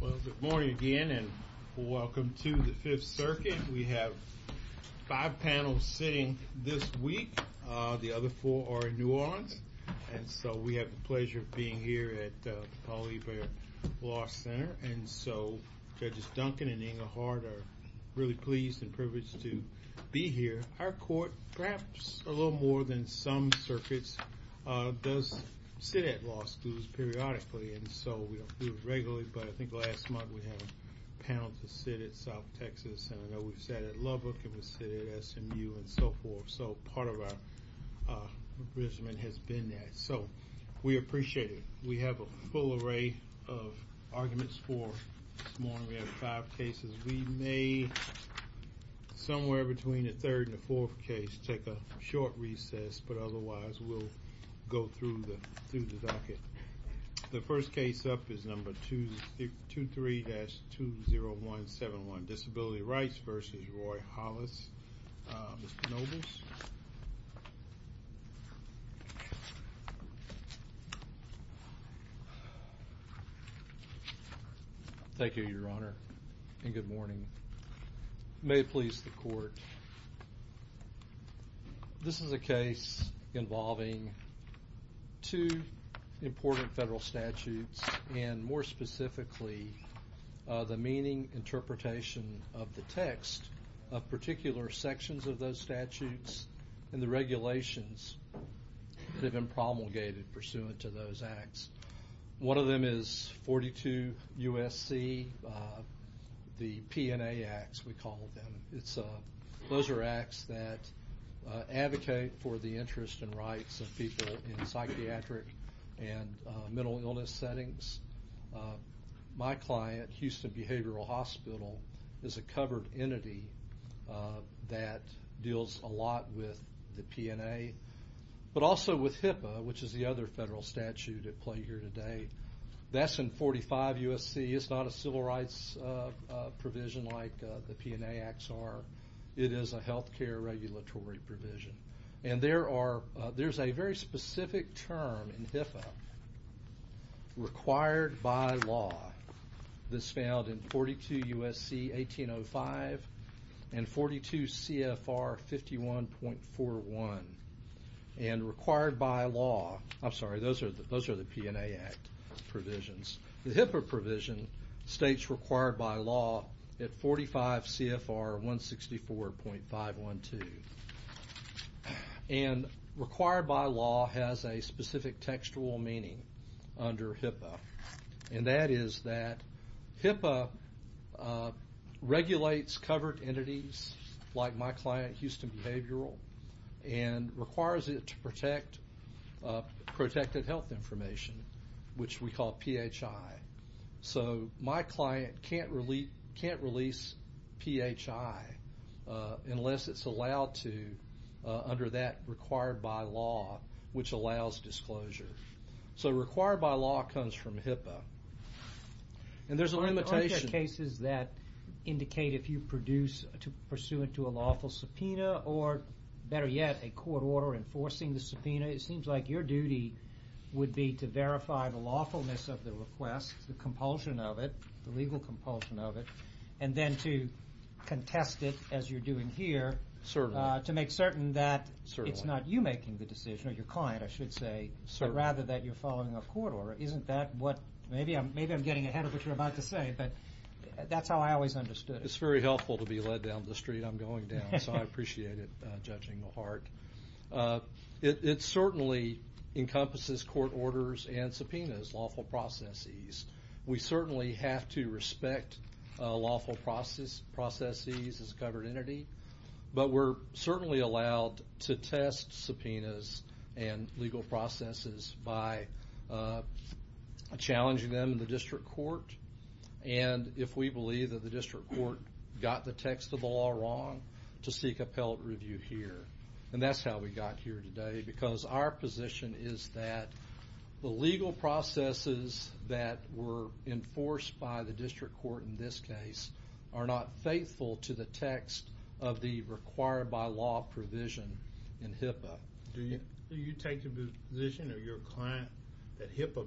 Well, good morning again and welcome to the Fifth Circuit. We have five panels sitting this week. The other four are in New Orleans. And so we have the pleasure of being here at the Paul E. Baird Law Center. And so Judges Duncan and Inga Hart are really pleased and privileged to be here. Our court, perhaps a little more than some circuits, does sit at law schools periodically. And so we don't do it regularly, but I think last month we had a panel to sit at South Texas. And I know we've sat at Lubbock and we've sat at SMU and so forth. So part of our arrangement has been that. So we appreciate it. We have a full array of arguments for this morning. We have five cases. We may somewhere between a third and a fourth case take a short recess, but otherwise we'll go through the docket. The first case up is number 23-20171, Disability Rights v. Roy Hollis. Mr. Nobles? Thank you, Your Honor, and good morning. May it please the court. This is a case involving two important federal statutes and more specifically the meaning, interpretation of the text of particular sections of those statutes and the regulations that have been promulgated pursuant to those acts. One of them is 42 U.S.C., the P&A Acts we call them. Those are acts that advocate for the interests and rights of people in psychiatric and mental illness settings. My client, Houston Behavioral Hospital, is a covered entity that deals a lot with the P&A, but also with HIPAA, which is the other federal statute at play here today. That's in 45 U.S.C. It's not a civil rights provision like the P&A Acts are. It is a health care regulatory provision. And there's a very specific term in HIPAA, required by law, that's found in 42 U.S.C. 1805 and 42 C.F.R. 51.41. And required by law, I'm sorry, those are the P&A Act provisions. The HIPAA provision states required by law at 45 C.F.R. 164.512. And required by law has a specific textual meaning under HIPAA, and that is that HIPAA regulates covered entities like my client, Houston Behavioral, and requires it to protect protected health information, which we call PHI. So my client can't release PHI unless it's allowed to under that required by law, which allows disclosure. So required by law comes from HIPAA. And there's a limitation. Are there cases that indicate if you pursue into a lawful subpoena or, better yet, a court order enforcing the subpoena, it seems like your duty would be to verify the lawfulness of the request, the compulsion of it, the legal compulsion of it, and then to contest it as you're doing here to make certain that it's not you making the decision, or your client, I should say, but rather that you're following a court order. Maybe I'm getting ahead of what you're about to say, but that's how I always understood it. It's very helpful to be led down the street. I'm going down, so I appreciate it, judging the heart. It certainly encompasses court orders and subpoenas, lawful processes. We certainly have to respect lawful processes as a covered entity, but we're certainly allowed to test subpoenas and legal processes by challenging them in the district court. And if we believe that the district court got the text of the law wrong, to seek appellate review here. And that's how we got here today, because our position is that the legal processes that were enforced by the district court in this case are not faithful to the text of the required-by-law provision in HIPAA. Do you take the position of your client that HIPAA,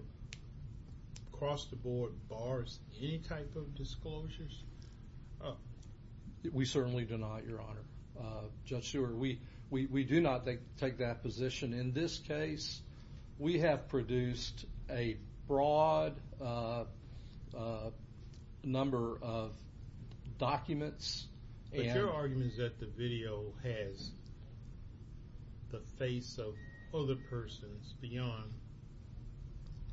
across the board, bars any type of disclosures? We certainly do not, Your Honor. Judge Seward, we do not take that position. In this case, we have produced a broad number of documents. But your argument is that the video has the face of other persons beyond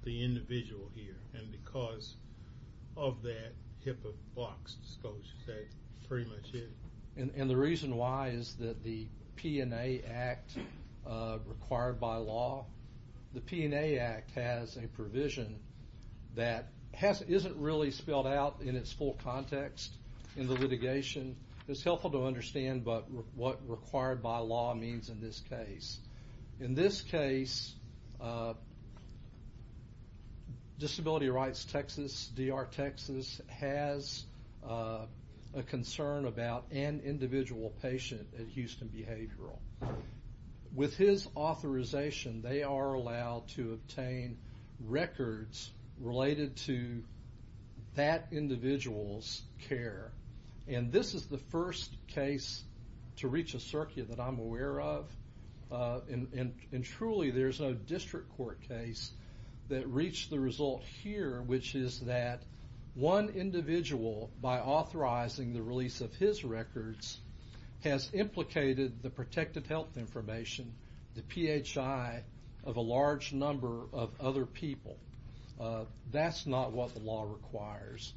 the individual here. And because of that HIPAA box disclosure, that pretty much is. And the reason why is that the P&A Act required-by-law, the P&A Act has a provision that isn't really spelled out in its full context in the litigation. It's helpful to understand what required-by-law means in this case. In this case, Disability Rights Texas, DR Texas, has a concern about an individual patient at Houston Behavioral. With his authorization, they are allowed to obtain records related to that individual's care. And this is the first case to reach a circuit that I'm aware of. And truly, there's no district court case that reached the result here, which is that one individual, by authorizing the release of his records, has implicated the protective health information, the PHI, of a large number of other people. That's not what the law requires.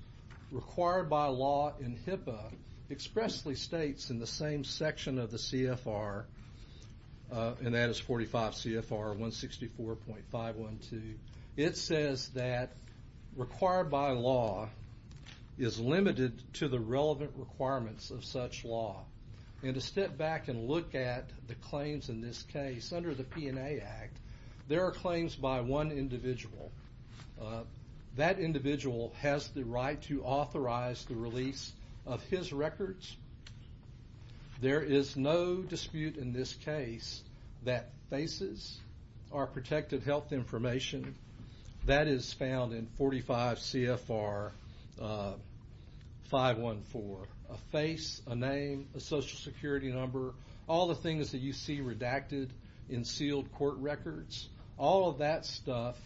Required-by-law in HIPAA expressly states in the same section of the CFR, and that is 45 CFR 164.512, it says that required-by-law is limited to the relevant requirements of such law. And to step back and look at the claims in this case, under the P&A Act, there are claims by one individual. That individual has the right to authorize the release of his records. There is no dispute in this case that faces are protected health information. That is found in 45 CFR 514. A face, a name, a social security number, all the things that you see redacted in sealed court records, all of that stuff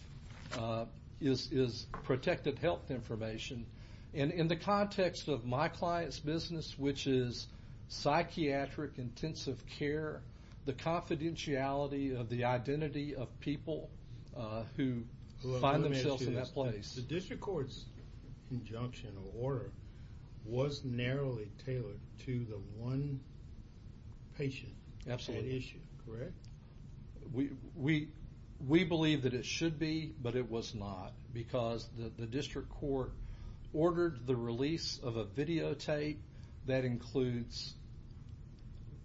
is protected health information. And in the context of my client's business, which is psychiatric intensive care, the confidentiality of the identity of people who find themselves in that place. The district court's injunction or order was narrowly tailored to the one patient issue, correct? We believe that it should be, but it was not, because the district court ordered the release of a videotape that includes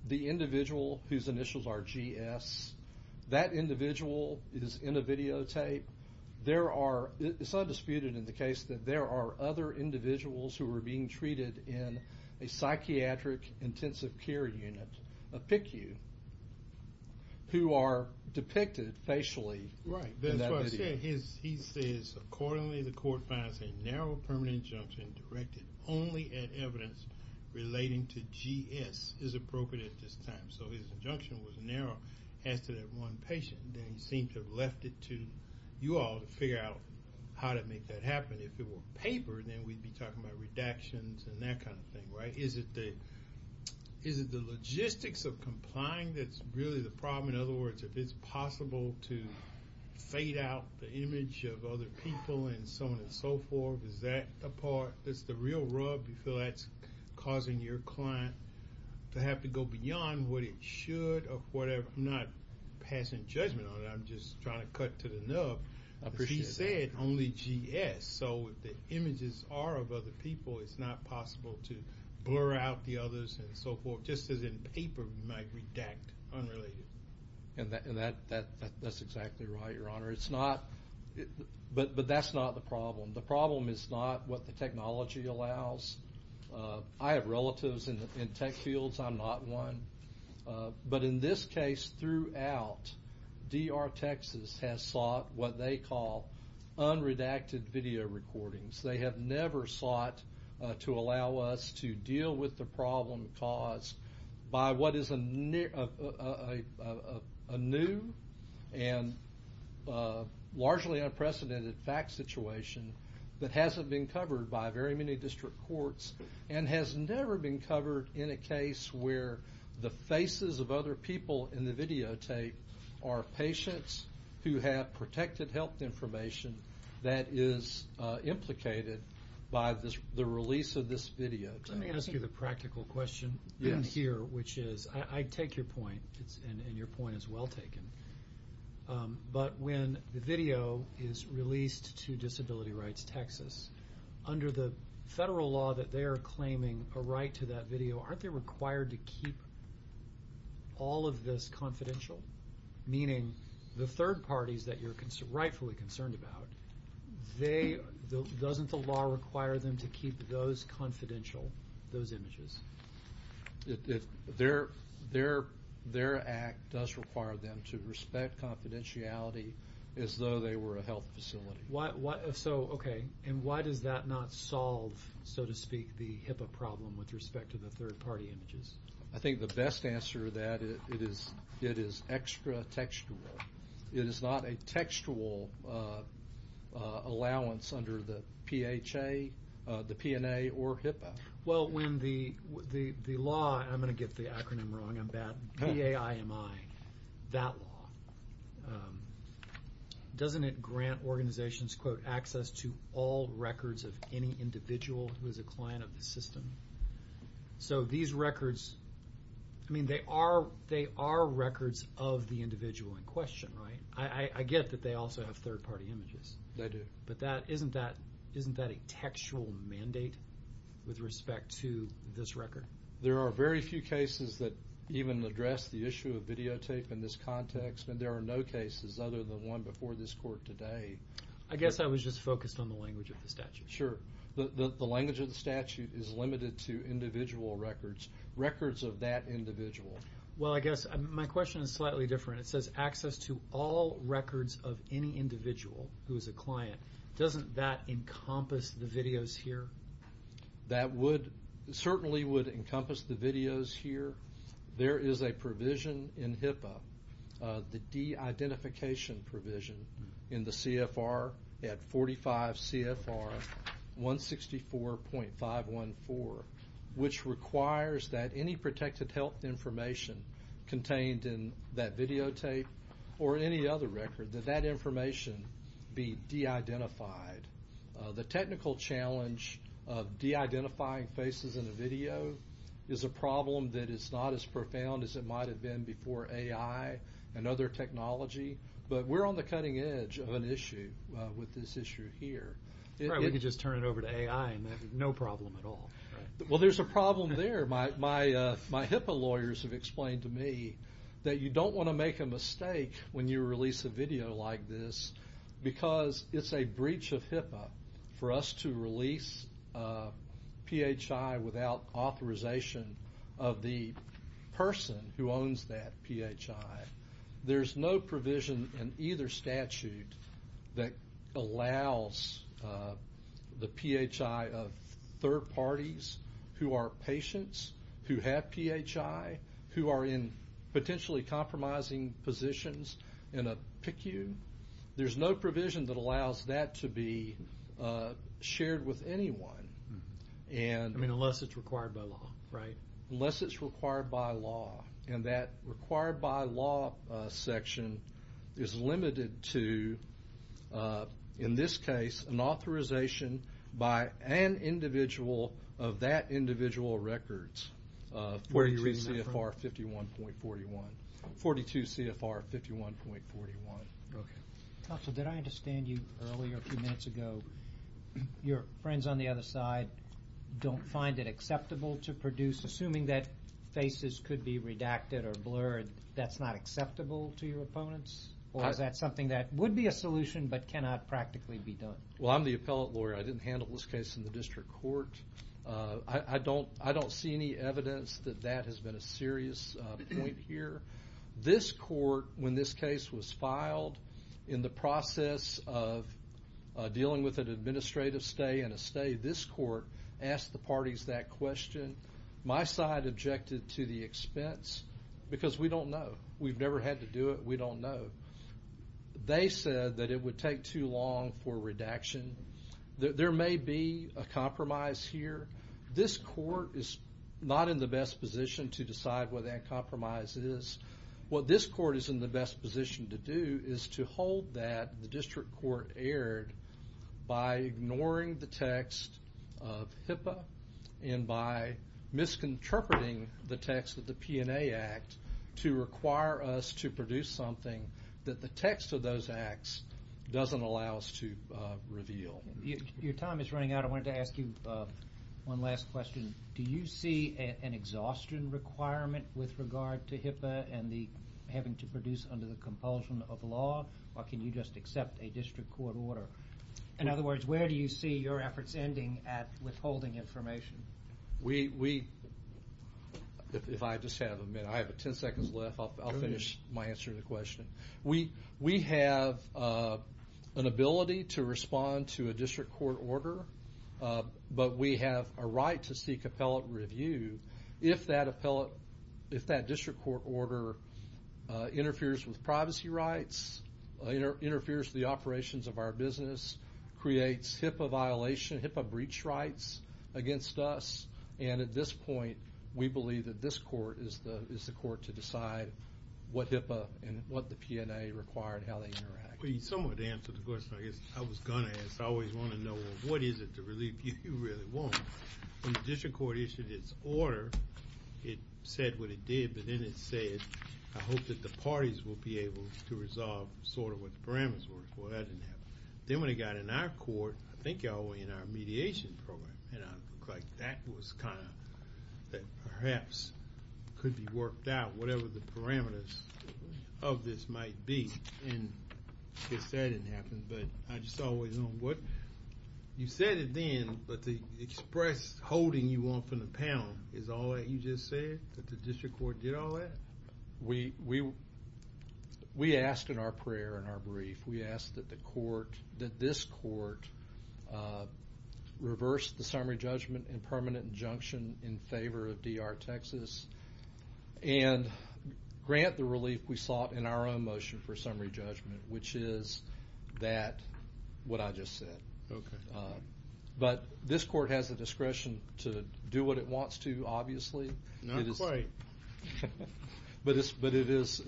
the individual whose initials are GS. That individual is in a videotape. It's undisputed in the case that there are other individuals who are being treated in a psychiatric intensive care unit, a PICU, who are depicted facially in that video. That's what I said. He says, accordingly, the court finds a narrow permanent injunction directed only at evidence relating to GS is appropriate at this time. So his injunction was narrow as to that one patient. They seem to have left it to you all to figure out how to make that happen. If it were paper, then we'd be talking about redactions and that kind of thing, right? Is it the logistics of complying that's really the problem? In other words, if it's possible to fade out the image of other people and so on and so forth, is that the part that's the real rub? Do you feel that's causing your client to have to go beyond what it should or whatever? I'm not passing judgment on it. I'm just trying to cut to the nub. He said only GS. So if the images are of other people, it's not possible to blur out the others and so forth, just as in paper we might redact unrelated. That's exactly right, Your Honor. But that's not the problem. The problem is not what the technology allows. I have relatives in tech fields. I'm not one. But in this case throughout, DR Texas has sought what they call unredacted video recordings. They have never sought to allow us to deal with the problem caused by what is a new and largely unprecedented fact situation that hasn't been covered by very many district courts and has never been covered in a case where the faces of other people in the videotape are patients who have protected health information that is implicated by the release of this videotape. Let me ask you the practical question here, which is I take your point, and your point is well taken. But when the video is released to Disability Rights Texas, under the federal law that they are claiming a right to that video, aren't they required to keep all of this confidential? Meaning the third parties that you're rightfully concerned about, doesn't the law require them to keep those confidential, those images? Their act does require them to respect confidentiality as though they were a health facility. So okay, and why does that not solve, so to speak, the HIPAA problem with respect to the third party images? I think the best answer to that is it is extra textual. It is not a textual allowance under the PHA, the PNA, or HIPAA. Well, when the law, I'm going to get the acronym wrong, I'm bad, PAIMI, that law, doesn't it grant organizations, quote, access to all records of any individual who is a client of the system? So these records, I mean they are records of the individual in question, right? I get that they also have third party images. They do. But isn't that a textual mandate with respect to this record? There are very few cases that even address the issue of videotape in this context, and there are no cases other than one before this court today. I guess I was just focused on the language of the statute. Sure. The language of the statute is limited to individual records, records of that individual. Well, I guess my question is slightly different. It says access to all records of any individual who is a client. Doesn't that encompass the videos here? That certainly would encompass the videos here. There is a provision in HIPAA, the de-identification provision in the CFR at 45 CFR 164.514, which requires that any protected health information contained in that videotape or any other record, that that information be de-identified. The technical challenge of de-identifying faces in a video is a problem that is not as profound as it might have been before AI and other technology. But we're on the cutting edge of an issue with this issue here. We could just turn it over to AI and have no problem at all. Well, there's a problem there. My HIPAA lawyers have explained to me that you don't want to make a mistake when you release a video like this because it's a breach of HIPAA for us to release PHI without authorization of the person who owns that PHI. There's no provision in either statute that allows the PHI of third parties who are patients who have PHI, who are in potentially compromising positions in a PICU. There's no provision that allows that to be shared with anyone. I mean, unless it's required by law, right? Unless it's required by law. And that required by law section is limited to, in this case, an authorization by an individual of that individual records of 42 CFR 51.41. 42 CFR 51.41. Okay. Counsel, did I understand you earlier, a few minutes ago, your friends on the other side don't find it acceptable to produce, assuming that faces could be redacted or blurred, that's not acceptable to your opponents? Or is that something that would be a solution but cannot practically be done? Well, I'm the appellate lawyer. I didn't handle this case in the district court. I don't see any evidence that that has been a serious point here. This court, when this case was filed, in the process of dealing with an administrative stay and a stay, this court asked the parties that question. My side objected to the expense because we don't know. We've never had to do it. We don't know. They said that it would take too long for redaction. There may be a compromise here. This court is not in the best position to decide what that compromise is. What this court is in the best position to do is to hold that the district court erred by ignoring the text of HIPAA and by misinterpreting the text of the P&A Act to require us to produce something that the text of those acts doesn't allow us to reveal. Your time is running out. I wanted to ask you one last question. Do you see an exhaustion requirement with regard to HIPAA and having to produce under the compulsion of law, or can you just accept a district court order? In other words, where do you see your efforts ending at withholding information? If I just have a minute, I have 10 seconds left. I'll finish my answer to the question. We have an ability to respond to a district court order, but we have a right to seek appellate review if that district court order interferes with privacy rights, interferes with the operations of our business, creates HIPAA violation, HIPAA breach rights against us, and at this point we believe that this court is the court to decide what HIPAA and what the P&A require and how they interact. You somewhat answered the question I guess I was going to ask. I always want to know, well, what is it to relieve you? You really won't. When the district court issued its order, it said what it did, but then it said, I hope that the parties will be able to resolve sort of what the parameters were. Well, that didn't happen. Then when it got in our court, I think y'all were in our mediation program, and it looked like that was kind of perhaps could be worked out, whatever the parameters of this might be, and I guess that didn't happen, but I just always want to know what. You said it then, but the express holding you want from the panel is all that you just said, that the district court did all that? We asked in our prayer, in our brief, we asked that this court reverse the summary judgment and permanent injunction in favor of D.R. Texas and grant the relief we sought in our own motion for summary judgment, which is that, what I just said. Okay. But this court has the discretion to do what it wants to, obviously. Not quite. But it is.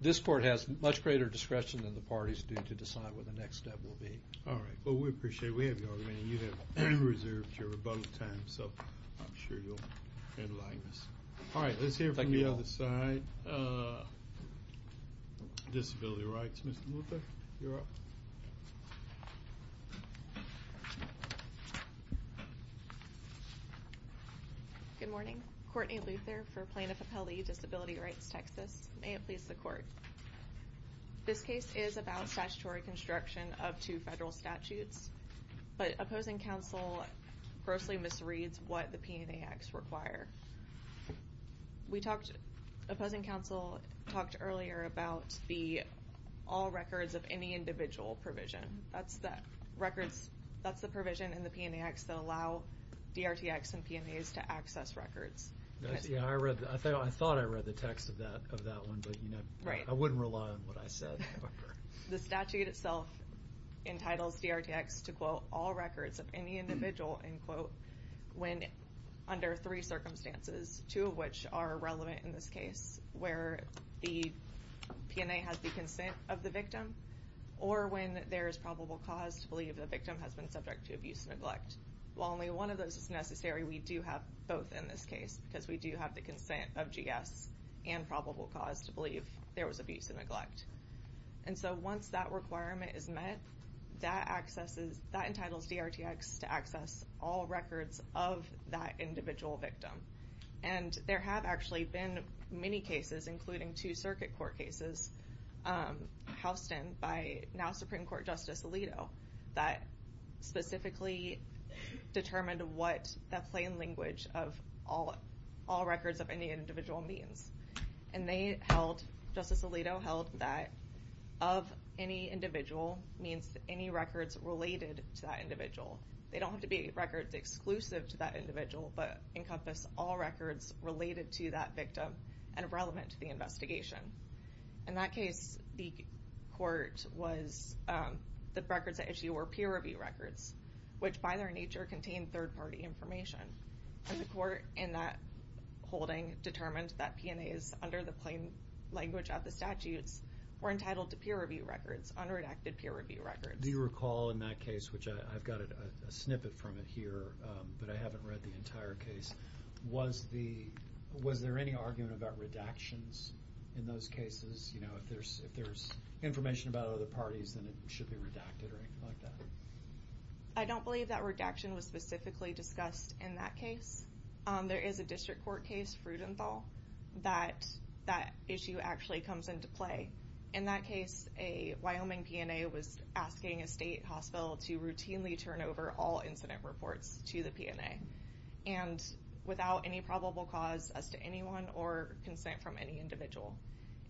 This court has much greater discretion than the parties do to decide what the next step will be. All right. Well, we appreciate it. We have y'all. I mean, you have reserved your above time, so I'm sure you'll enlighten us. All right. Let's hear from the other side. Disability rights. Ms. Luther, you're up. Good morning. Courtney Luther for Plano-Papelde, Disability Rights, Texas. May it please the court. This case is about statutory construction of two federal statutes, but opposing counsel grossly misreads what the PNA acts require. Opposing counsel talked earlier about the all records of any individual provision. That's the provision in the PNA acts that allow DRTX and PNAs to access records. I thought I read the text of that one, but I wouldn't rely on what I said. The statute itself entitles DRTX to, quote, under three circumstances, two of which are relevant in this case, where the PNA has the consent of the victim or when there is probable cause to believe the victim has been subject to abuse and neglect. While only one of those is necessary, we do have both in this case because we do have the consent of GS and probable cause to believe there was abuse and neglect. Once that requirement is met, that entitles DRTX to access all records of that individual victim. There have actually been many cases, including two circuit court cases, housed in by now Supreme Court Justice Alito, that specifically determined what the plain language of all records of any individual means. Justice Alito held that of any individual means any records related to that individual. They don't have to be records exclusive to that individual, but encompass all records related to that victim and relevant to the investigation. In that case, the records at issue were peer-reviewed records, which by their nature contained third-party information. The court in that holding determined that PNAs under the plain language of the statutes were entitled to peer-reviewed records, unredacted peer-reviewed records. Do you recall in that case, which I've got a snippet from it here, but I haven't read the entire case, was there any argument about redactions in those cases? If there's information about other parties, then it should be redacted or anything like that. I don't believe that redaction was specifically discussed in that case. There is a district court case, Frudenthal, that that issue actually comes into play. In that case, a Wyoming PNA was asking a state hospital to routinely turn over all incident reports to the PNA and without any probable cause as to anyone or consent from any individual.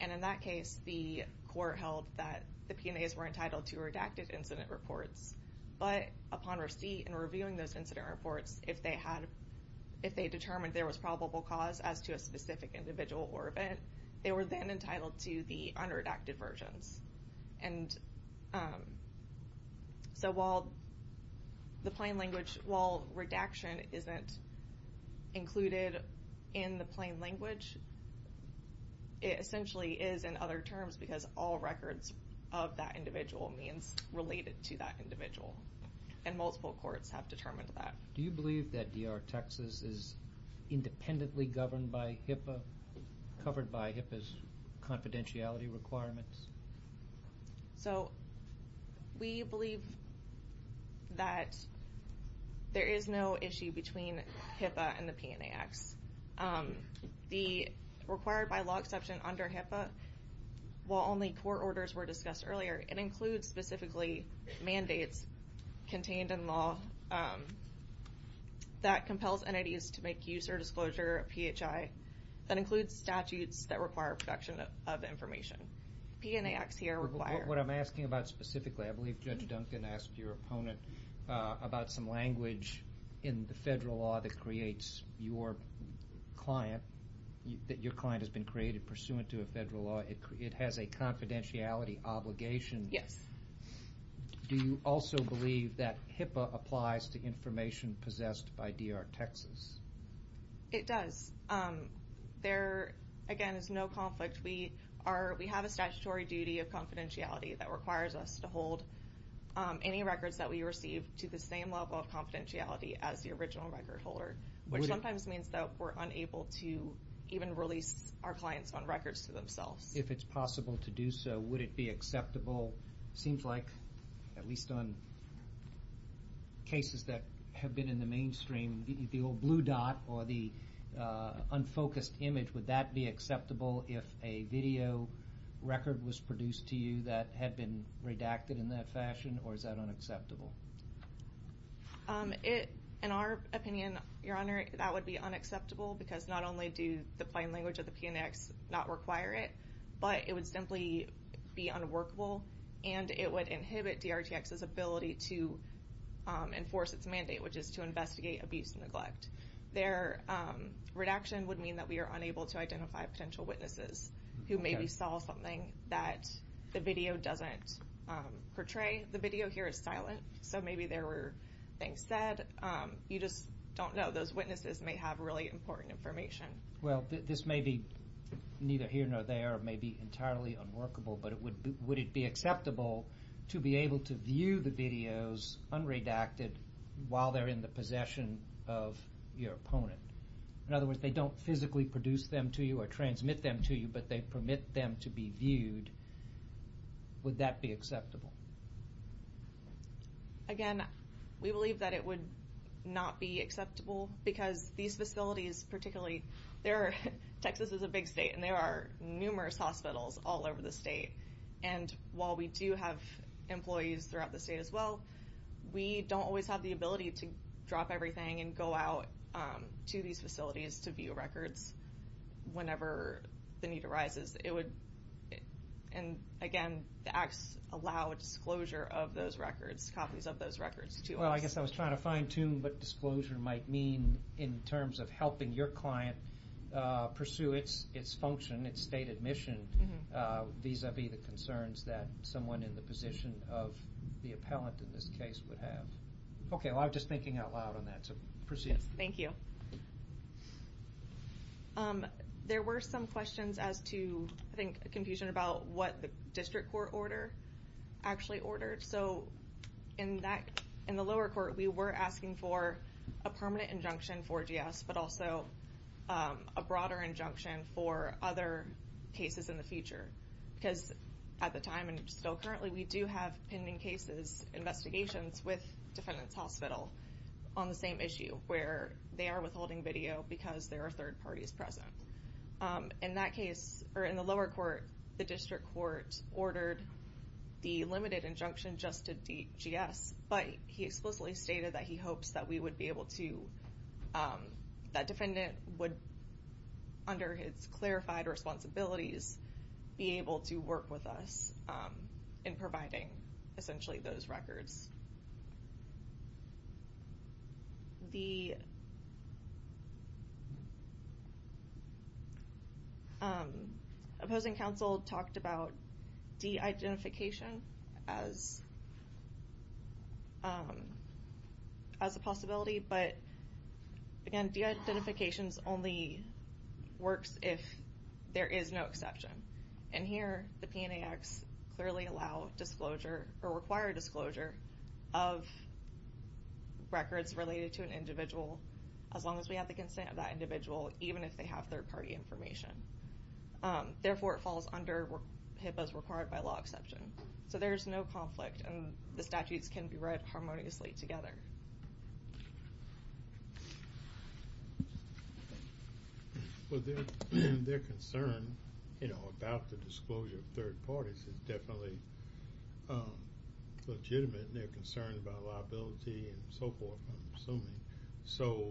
In that case, the court held that the PNAs were entitled to redacted incident reports, but upon receipt and reviewing those incident reports, if they determined there was probable cause as to a specific individual or event, they were then entitled to the unredacted versions. While redaction isn't included in the plain language, it essentially is in other terms because all records of that individual means related to that individual, and multiple courts have determined that. Do you believe that DR Texas is independently governed by HIPAA, covered by HIPAA's confidentiality requirements? So we believe that there is no issue between HIPAA and the PNA acts. The required by law exception under HIPAA, while only court orders were discussed earlier, it includes specifically mandates contained in law that compels entities to make use or disclosure of PHI. That includes statutes that require protection of information. PNA acts here require... What I'm asking about specifically, I believe Judge Duncan asked your opponent about some language in the federal law that creates your client, that your client has been created pursuant to a federal law. It has a confidentiality obligation. Yes. Do you also believe that HIPAA applies to information possessed by DR Texas? It does. There, again, is no conflict. We have a statutory duty of confidentiality that requires us to hold any records that we receive to the same level of confidentiality as the original record holder, which sometimes means that we're unable to even release our clients on records to themselves. If it's possible to do so, would it be acceptable? It seems like, at least on cases that have been in the mainstream, the old blue dot or the unfocused image, would that be acceptable if a video record was produced to you that had been redacted in that fashion, or is that unacceptable? In our opinion, Your Honor, that would be unacceptable because not only do the plain language of the PNA acts not require it, but it would simply be unworkable, and it would inhibit DRTX's ability to enforce its mandate, which is to investigate abuse and neglect. Their redaction would mean that we are unable to identify potential witnesses who maybe saw something that the video doesn't portray. The video here is silent, so maybe there were things said. You just don't know. Those witnesses may have really important information. Well, this may be neither here nor there. It may be entirely unworkable, but would it be acceptable to be able to view the videos unredacted while they're in the possession of your opponent? In other words, they don't physically produce them to you or transmit them to you, but they permit them to be viewed. Would that be acceptable? Again, we believe that it would not be acceptable because these facilities particularly, Texas is a big state, and there are numerous hospitals all over the state, and while we do have employees throughout the state as well, we don't always have the ability to drop everything and go out to these facilities to view records whenever the need arises. Again, the acts allow a disclosure of those records, copies of those records. Well, I guess I was trying to fine-tune what disclosure might mean in terms of helping your client pursue its function, its stated mission, vis-a-vis the concerns that someone in the position of the appellant in this case would have. Okay, well, I'm just thinking out loud on that, so proceed. Thank you. There were some questions as to, I think, confusion about what the district court order actually ordered. In the lower court, we were asking for a permanent injunction for GS but also a broader injunction for other cases in the future because at the time and still currently, we do have pending cases, investigations with defendants' hospital on the same issue where they are withholding video because there are third parties present. In that case, or in the lower court, the district court ordered the limited injunction just to GS but he explicitly stated that he hopes that we would be able to, that defendant would, under his clarified responsibilities, be able to work with us in providing, essentially, those records. Opposing counsel talked about de-identification as a possibility, but, again, de-identification only works if there is no exception. And here, the PNAX clearly allow disclosure, or require disclosure, of records related to an individual as long as we have the consent of that individual, even if they have third party information. Therefore, it falls under HIPAA's required by law exception. So there is no conflict, and the statutes can be read harmoniously together. Well, their concern about the disclosure of third parties is definitely legitimate, and they're concerned about liability and so forth, I'm assuming. So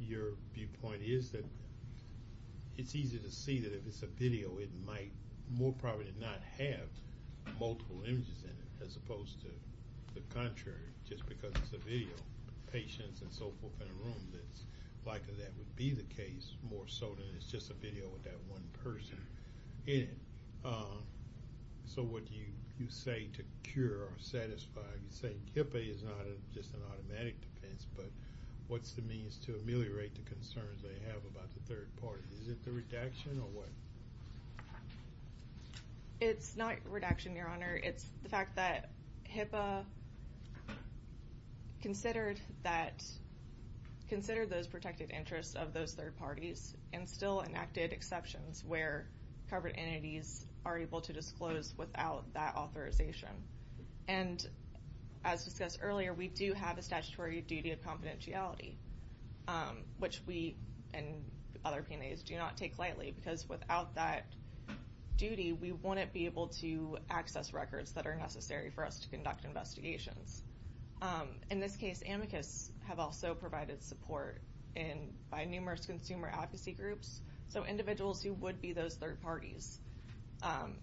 your viewpoint is that it's easy to see that if it's a video, it might more probably not have multiple images in it, as opposed to the contrary, just because it's a video. Patients and so forth in a room, it's likely that would be the case, more so than it's just a video with that one person in it. So what you say to cure or satisfy, you say HIPAA is not just an automatic defense, but what's the means to ameliorate the concerns they have about the third party? Is it the redaction or what? It's not redaction, Your Honor. It's the fact that HIPAA considered those protected interests of those third parties and still enacted exceptions where covered entities are able to disclose without that authorization. And as discussed earlier, we do have a statutory duty of confidentiality, which we and other PNAs do not take lightly, because without that duty, we wouldn't be able to access records that are necessary for us to conduct investigations. In this case, amicus have also provided support by numerous consumer advocacy groups, so individuals who would be those third parties,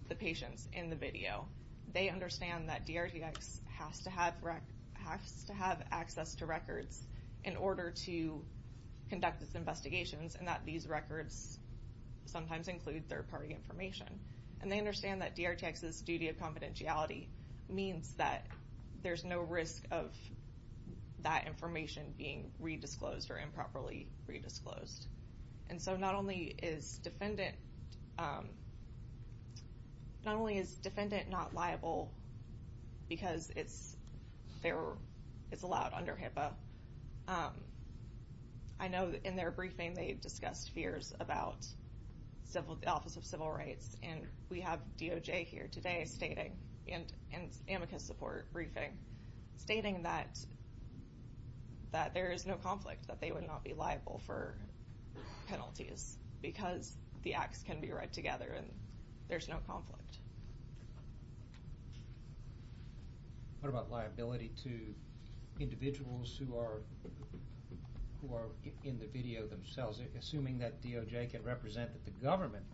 the patients in the video, they understand that DRTX has to have access to records in order to conduct its investigations and that these records sometimes include third party information. And they understand that DRTX's duty of confidentiality means that there's no risk of that information being re-disclosed or improperly re-disclosed. And so not only is defendant not liable because it's allowed under HIPAA, I know in their briefing they discussed fears about the Office of Civil Rights, and we have DOJ here today stating, in an amicus support briefing, stating that there is no conflict, that they would not be liable for penalties because the acts can be read together and there's no conflict. What about liability to individuals who are in the video themselves? Assuming that DOJ can represent that the government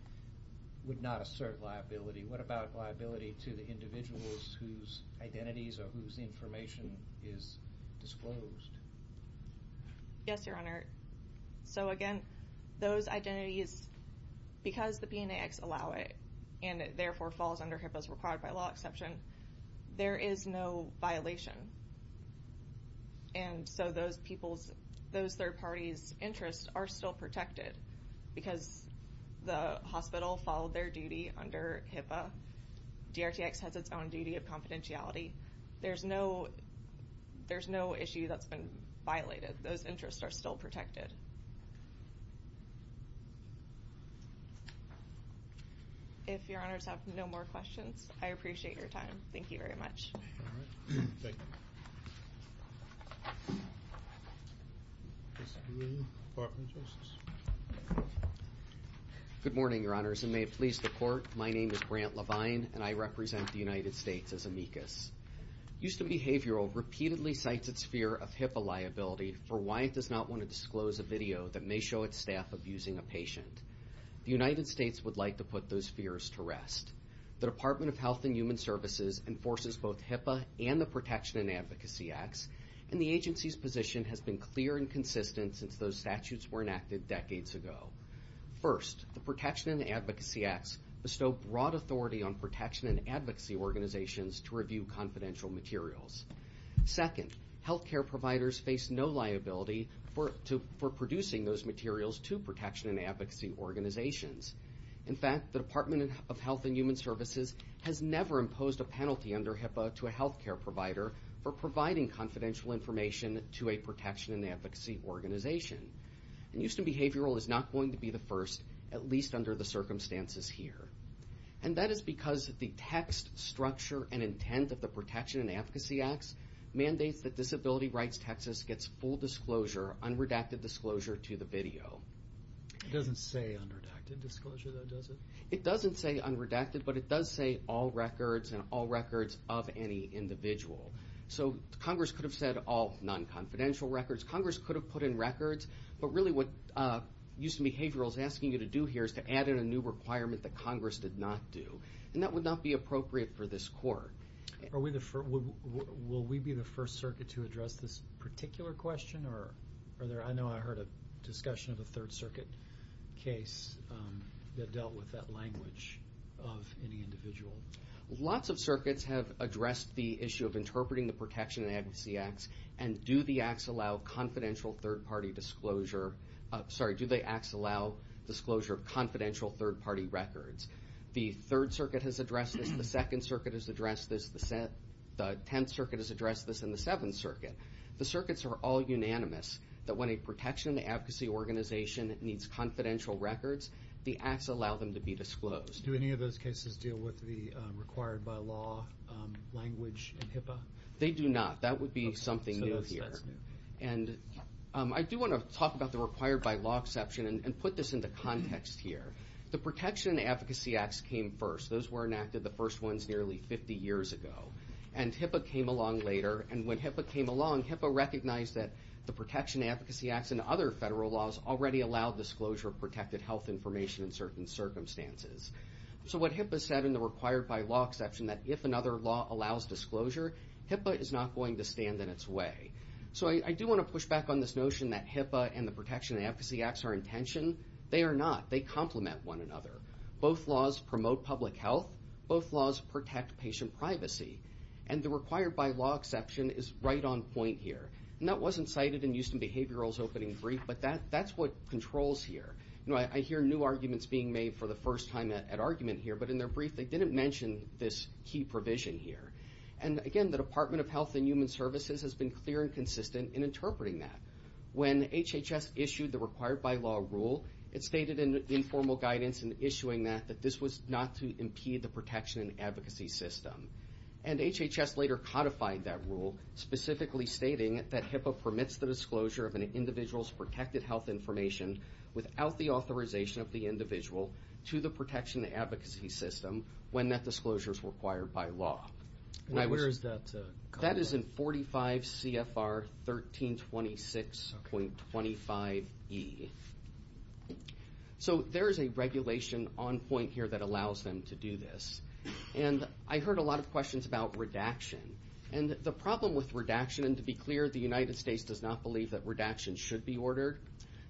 would not assert liability, what about liability to the individuals whose identities or whose information is disclosed? Yes, Your Honor. So again, those identities, because the PNAX allow it and it therefore falls under HIPAA as required by law exception, there is no violation. And so those people's, those third parties' interests are still protected because the hospital followed their duty under HIPAA. DRTX has its own duty of confidentiality. There's no issue that's been violated. Those interests are still protected. If Your Honors have no more questions, I appreciate your time. Thank you very much. Thank you. Good morning, Your Honors, and may it please the Court, my name is Grant Levine and I represent the United States as amicus. Houston Behavioral repeatedly cites its fear of HIPAA liability for why it does not want to disclose a video that may show its staff abusing a patient. The United States would like to put those fears to rest. The Department of Health and Human Services enforces both HIPAA and the Protection and Advocacy Acts, and the agency's position has been clear and consistent since those statutes were enacted decades ago. First, the Protection and Advocacy Acts bestow broad authority on protection and advocacy organizations to review confidential materials. Second, health care providers face no liability for producing those materials to protection and advocacy organizations. In fact, the Department of Health and Human Services has never imposed a penalty under HIPAA to a health care provider for providing confidential information to a protection and advocacy organization. And Houston Behavioral is not going to be the first, at least under the circumstances here. And that is because the text, structure, and intent of the Protection and Advocacy Acts mandates that Disability Rights Texas gets full disclosure, unredacted disclosure, to the video. It doesn't say unredacted disclosure, though, does it? It doesn't say unredacted, but it does say all records and all records of any individual. So Congress could have said all non-confidential records. Congress could have put in records. But really what Houston Behavioral is asking you to do here is to add in a new requirement that Congress did not do, and that would not be appropriate for this court. Will we be the first circuit to address this particular question? I know I heard a discussion of a third circuit case that dealt with that language of any individual. Lots of circuits have addressed the issue of interpreting the Protection and Advocacy Acts, and do the acts allow confidential third-party disclosure of confidential third-party records. The Third Circuit has addressed this, the Second Circuit has addressed this, the Tenth Circuit has addressed this, and the Seventh Circuit. The circuits are all unanimous that when a Protection and Advocacy Organization needs confidential records, the acts allow them to be disclosed. Do any of those cases deal with the required-by-law language in HIPAA? They do not. That would be something new here. And I do want to talk about the required-by-law exception and put this into context here. The Protection and Advocacy Acts came first. Those were enacted, the first ones, nearly 50 years ago. And HIPAA came along later. And when HIPAA came along, HIPAA recognized that the Protection and Advocacy Acts and other federal laws already allow disclosure of protected health information in certain circumstances. So what HIPAA said in the required-by-law exception that if another law allows disclosure, HIPAA is not going to stand in its way. So I do want to push back on this notion that HIPAA and the Protection and Advocacy Acts are in tension. They are not. They complement one another. Both laws promote public health. Both laws protect patient privacy. And the required-by-law exception is right on point here. And that wasn't cited in Houston Behavioral's opening brief, but that's what controls here. I hear new arguments being made for the first time at argument here, but in their brief they didn't mention this key provision here. And, again, the Department of Health and Human Services has been clear and consistent in interpreting that. When HHS issued the required-by-law rule, it stated in informal guidance in issuing that that this was not to impede the protection and advocacy system. And HHS later codified that rule, specifically stating that HIPAA permits the disclosure of an individual's protected health information without the authorization of the individual to the protection and advocacy system when that disclosure is required by law. Where is that codified? That is in 45 CFR 1326.25e. So there is a regulation on point here that allows them to do this. And I heard a lot of questions about redaction. And the problem with redaction, and to be clear, the United States does not believe that redaction should be ordered.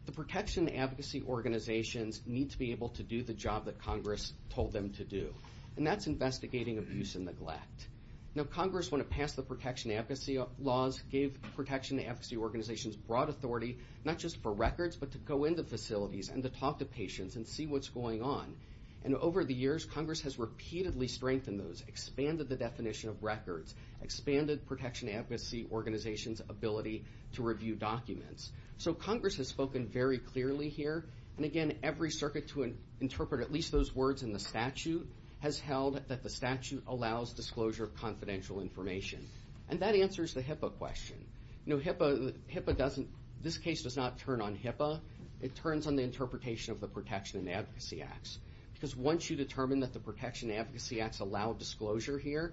The protection and advocacy organizations need to be able to do the job that Congress told them to do, and that's investigating abuse and neglect. Now Congress, when it passed the protection and advocacy laws, gave protection and advocacy organizations broad authority not just for records but to go into facilities and to talk to patients and see what's going on. And over the years, Congress has repeatedly strengthened those, expanded the definition of records, expanded protection and advocacy organizations' ability to review documents. So Congress has spoken very clearly here. And, again, every circuit to interpret at least those words in the statute has held that the statute allows disclosure of confidential information. And that answers the HIPAA question. You know, HIPAA doesn't – this case does not turn on HIPAA. It turns on the interpretation of the Protection and Advocacy Acts. Because once you determine that the Protection and Advocacy Acts allow disclosure here,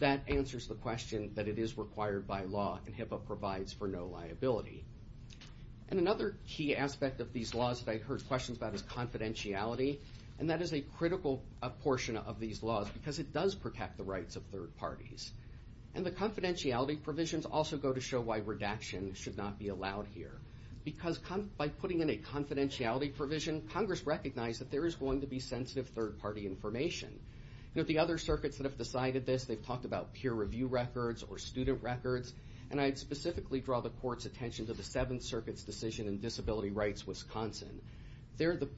that answers the question that it is required by law and HIPAA provides for no liability. And another key aspect of these laws that I heard questions about is confidentiality. And that is a critical portion of these laws because it does protect the rights of third parties. And the confidentiality provisions also go to show why redaction should not be allowed here. Because by putting in a confidentiality provision, Congress recognized that there is going to be sensitive third-party information. You know, the other circuits that have decided this, they've talked about peer review records or student records. And I'd specifically draw the court's attention to the Seventh Circuit's decision in Disability Rights Wisconsin. There, the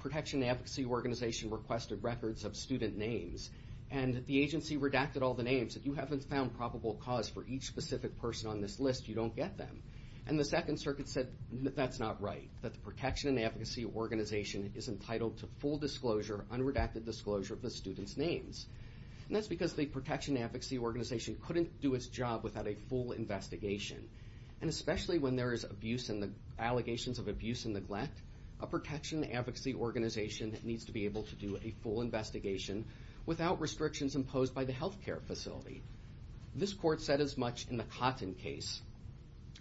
Protection and Advocacy Organization requested records of student names. And the agency redacted all the names. If you haven't found probable cause for each specific person on this list, you don't get them. And the Second Circuit said that's not right, that the Protection and Advocacy Organization is entitled to full disclosure, unredacted disclosure of the students' names. And that's because the Protection and Advocacy Organization couldn't do its job without a full investigation. And especially when there is allegations of abuse and neglect, a Protection and Advocacy Organization needs to be able to do a full investigation without restrictions imposed by the health care facility. This court said as much in the Cotton case,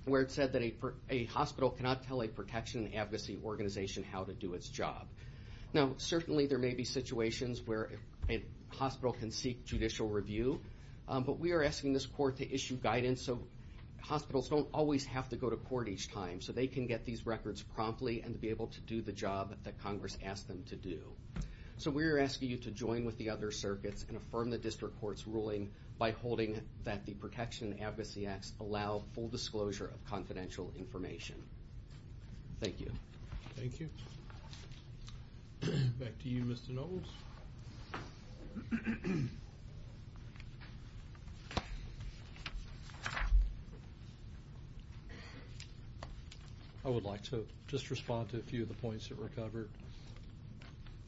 where it said that a hospital cannot tell a Protection and Advocacy Organization how to do its job. Now, certainly there may be situations where a hospital can seek judicial review. But we are asking this court to issue guidance so hospitals don't always have to go to court each time, so they can get these records promptly and be able to do the job that Congress asked them to do. So we are asking you to join with the other circuits and affirm the district court's ruling by holding that the Protection and Advocacy Act allow full disclosure of confidential information. Thank you. Thank you. Back to you, Mr. Knowles. I would like to just respond to a few of the points that were covered.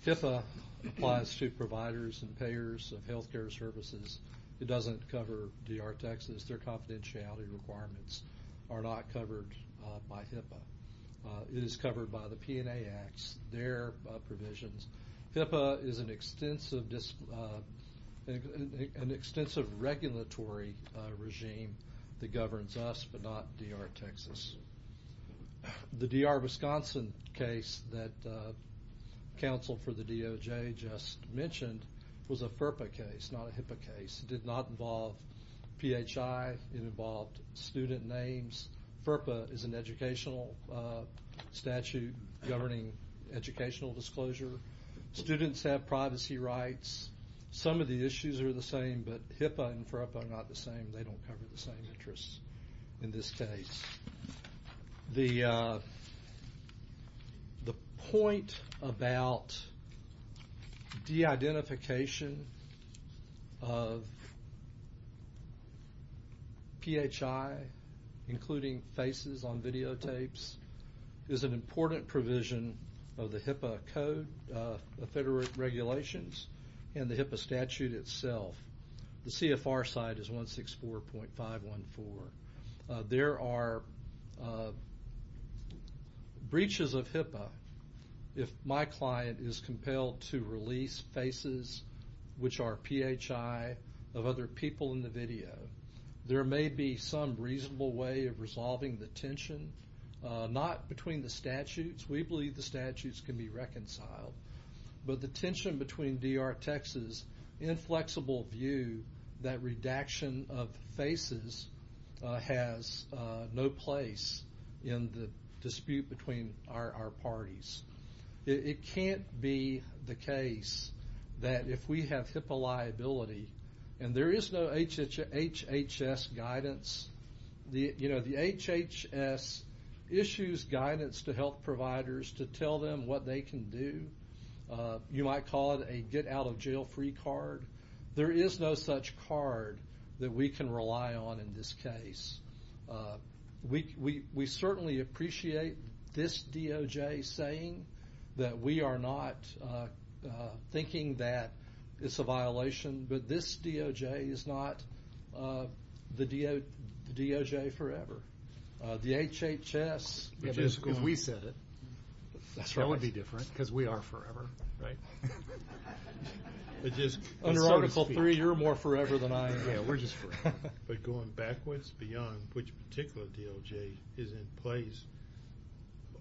HIPAA applies to providers and payers of health care services. It doesn't cover D.R. Texas. Their confidentiality requirements are not covered by HIPAA. It is covered by the P&A Acts, their provisions. HIPAA is an extensive regulatory regime that governs us but not D.R. Texas. The D.R. Wisconsin case that counsel for the DOJ just mentioned was a FERPA case, not a HIPAA case. It did not involve PHI. It involved student names. FERPA is an educational statute governing educational disclosure. Students have privacy rights. Some of the issues are the same, but HIPAA and FERPA are not the same. They don't cover the same interests in this case. The point about de-identification of PHI, including faces on videotapes, is an important provision of the HIPAA Code of Federal Regulations and the HIPAA statute itself. The CFR side is 164.514. There are breaches of HIPAA. If my client is compelled to release faces which are PHI of other people in the video, there may be some reasonable way of resolving the tension, not between the statutes. We believe the statutes can be reconciled. But the tension between D.R. Texas' inflexible view that redaction of faces has no place in the dispute between our parties. It can't be the case that if we have HIPAA liability and there is no HHS guidance, the HHS issues guidance to health providers to tell them what they can do. You might call it a get-out-of-jail-free card. There is no such card that we can rely on in this case. We certainly appreciate this DOJ saying that we are not thinking that it's a violation, but this DOJ is not the DOJ forever. The HHS... If we said it, that would be different because we are forever. Under Article III, you're more forever than I am. We're just forever. But going backwards beyond which particular DOJ is in place,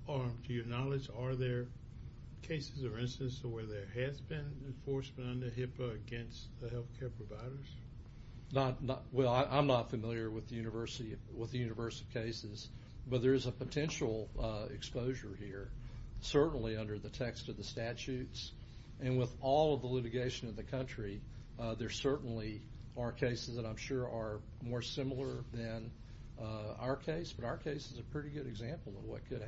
to your knowledge, are there cases or instances where there has been enforcement under HIPAA against the health care providers? Well, I'm not familiar with the university cases, but there is a potential exposure here, certainly under the text of the statutes. And with all of the litigation in the country, there certainly are cases that I'm sure are more similar than our case, but our case is a pretty good example of what could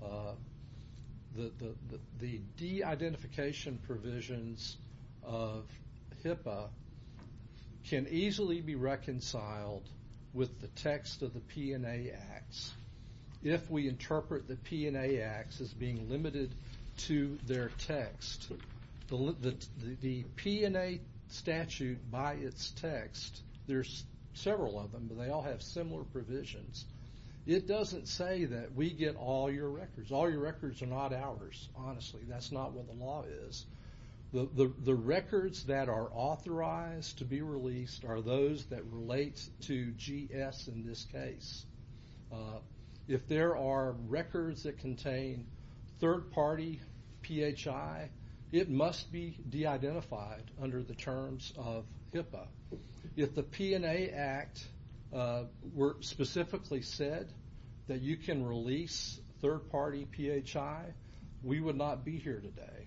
happen. The de-identification provisions of HIPAA can easily be reconciled with the text of the P&A Acts if we interpret the P&A Acts as being limited to their text. The P&A statute by its text, there's several of them, but they all have similar provisions. It doesn't say that we get all your records. All your records are not ours, honestly. That's not what the law is. The records that are authorized to be released are those that relate to GS in this case. If there are records that contain third-party PHI, it must be de-identified under the terms of HIPAA. If the P&A Act were specifically said that you can release third-party PHI, we would not be here today.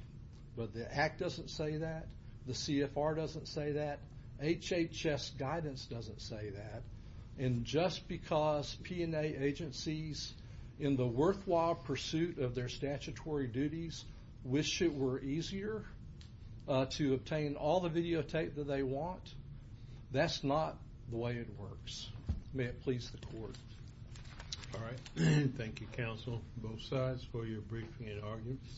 But the Act doesn't say that. The CFR doesn't say that. HHS guidance doesn't say that. And just because P&A agencies, in the worthwhile pursuit of their statutory duties, wish it were easier to obtain all the videotape that they want, that's not the way it works. May it please the court. All right. Thank you, counsel, both sides, for your briefing and arguments.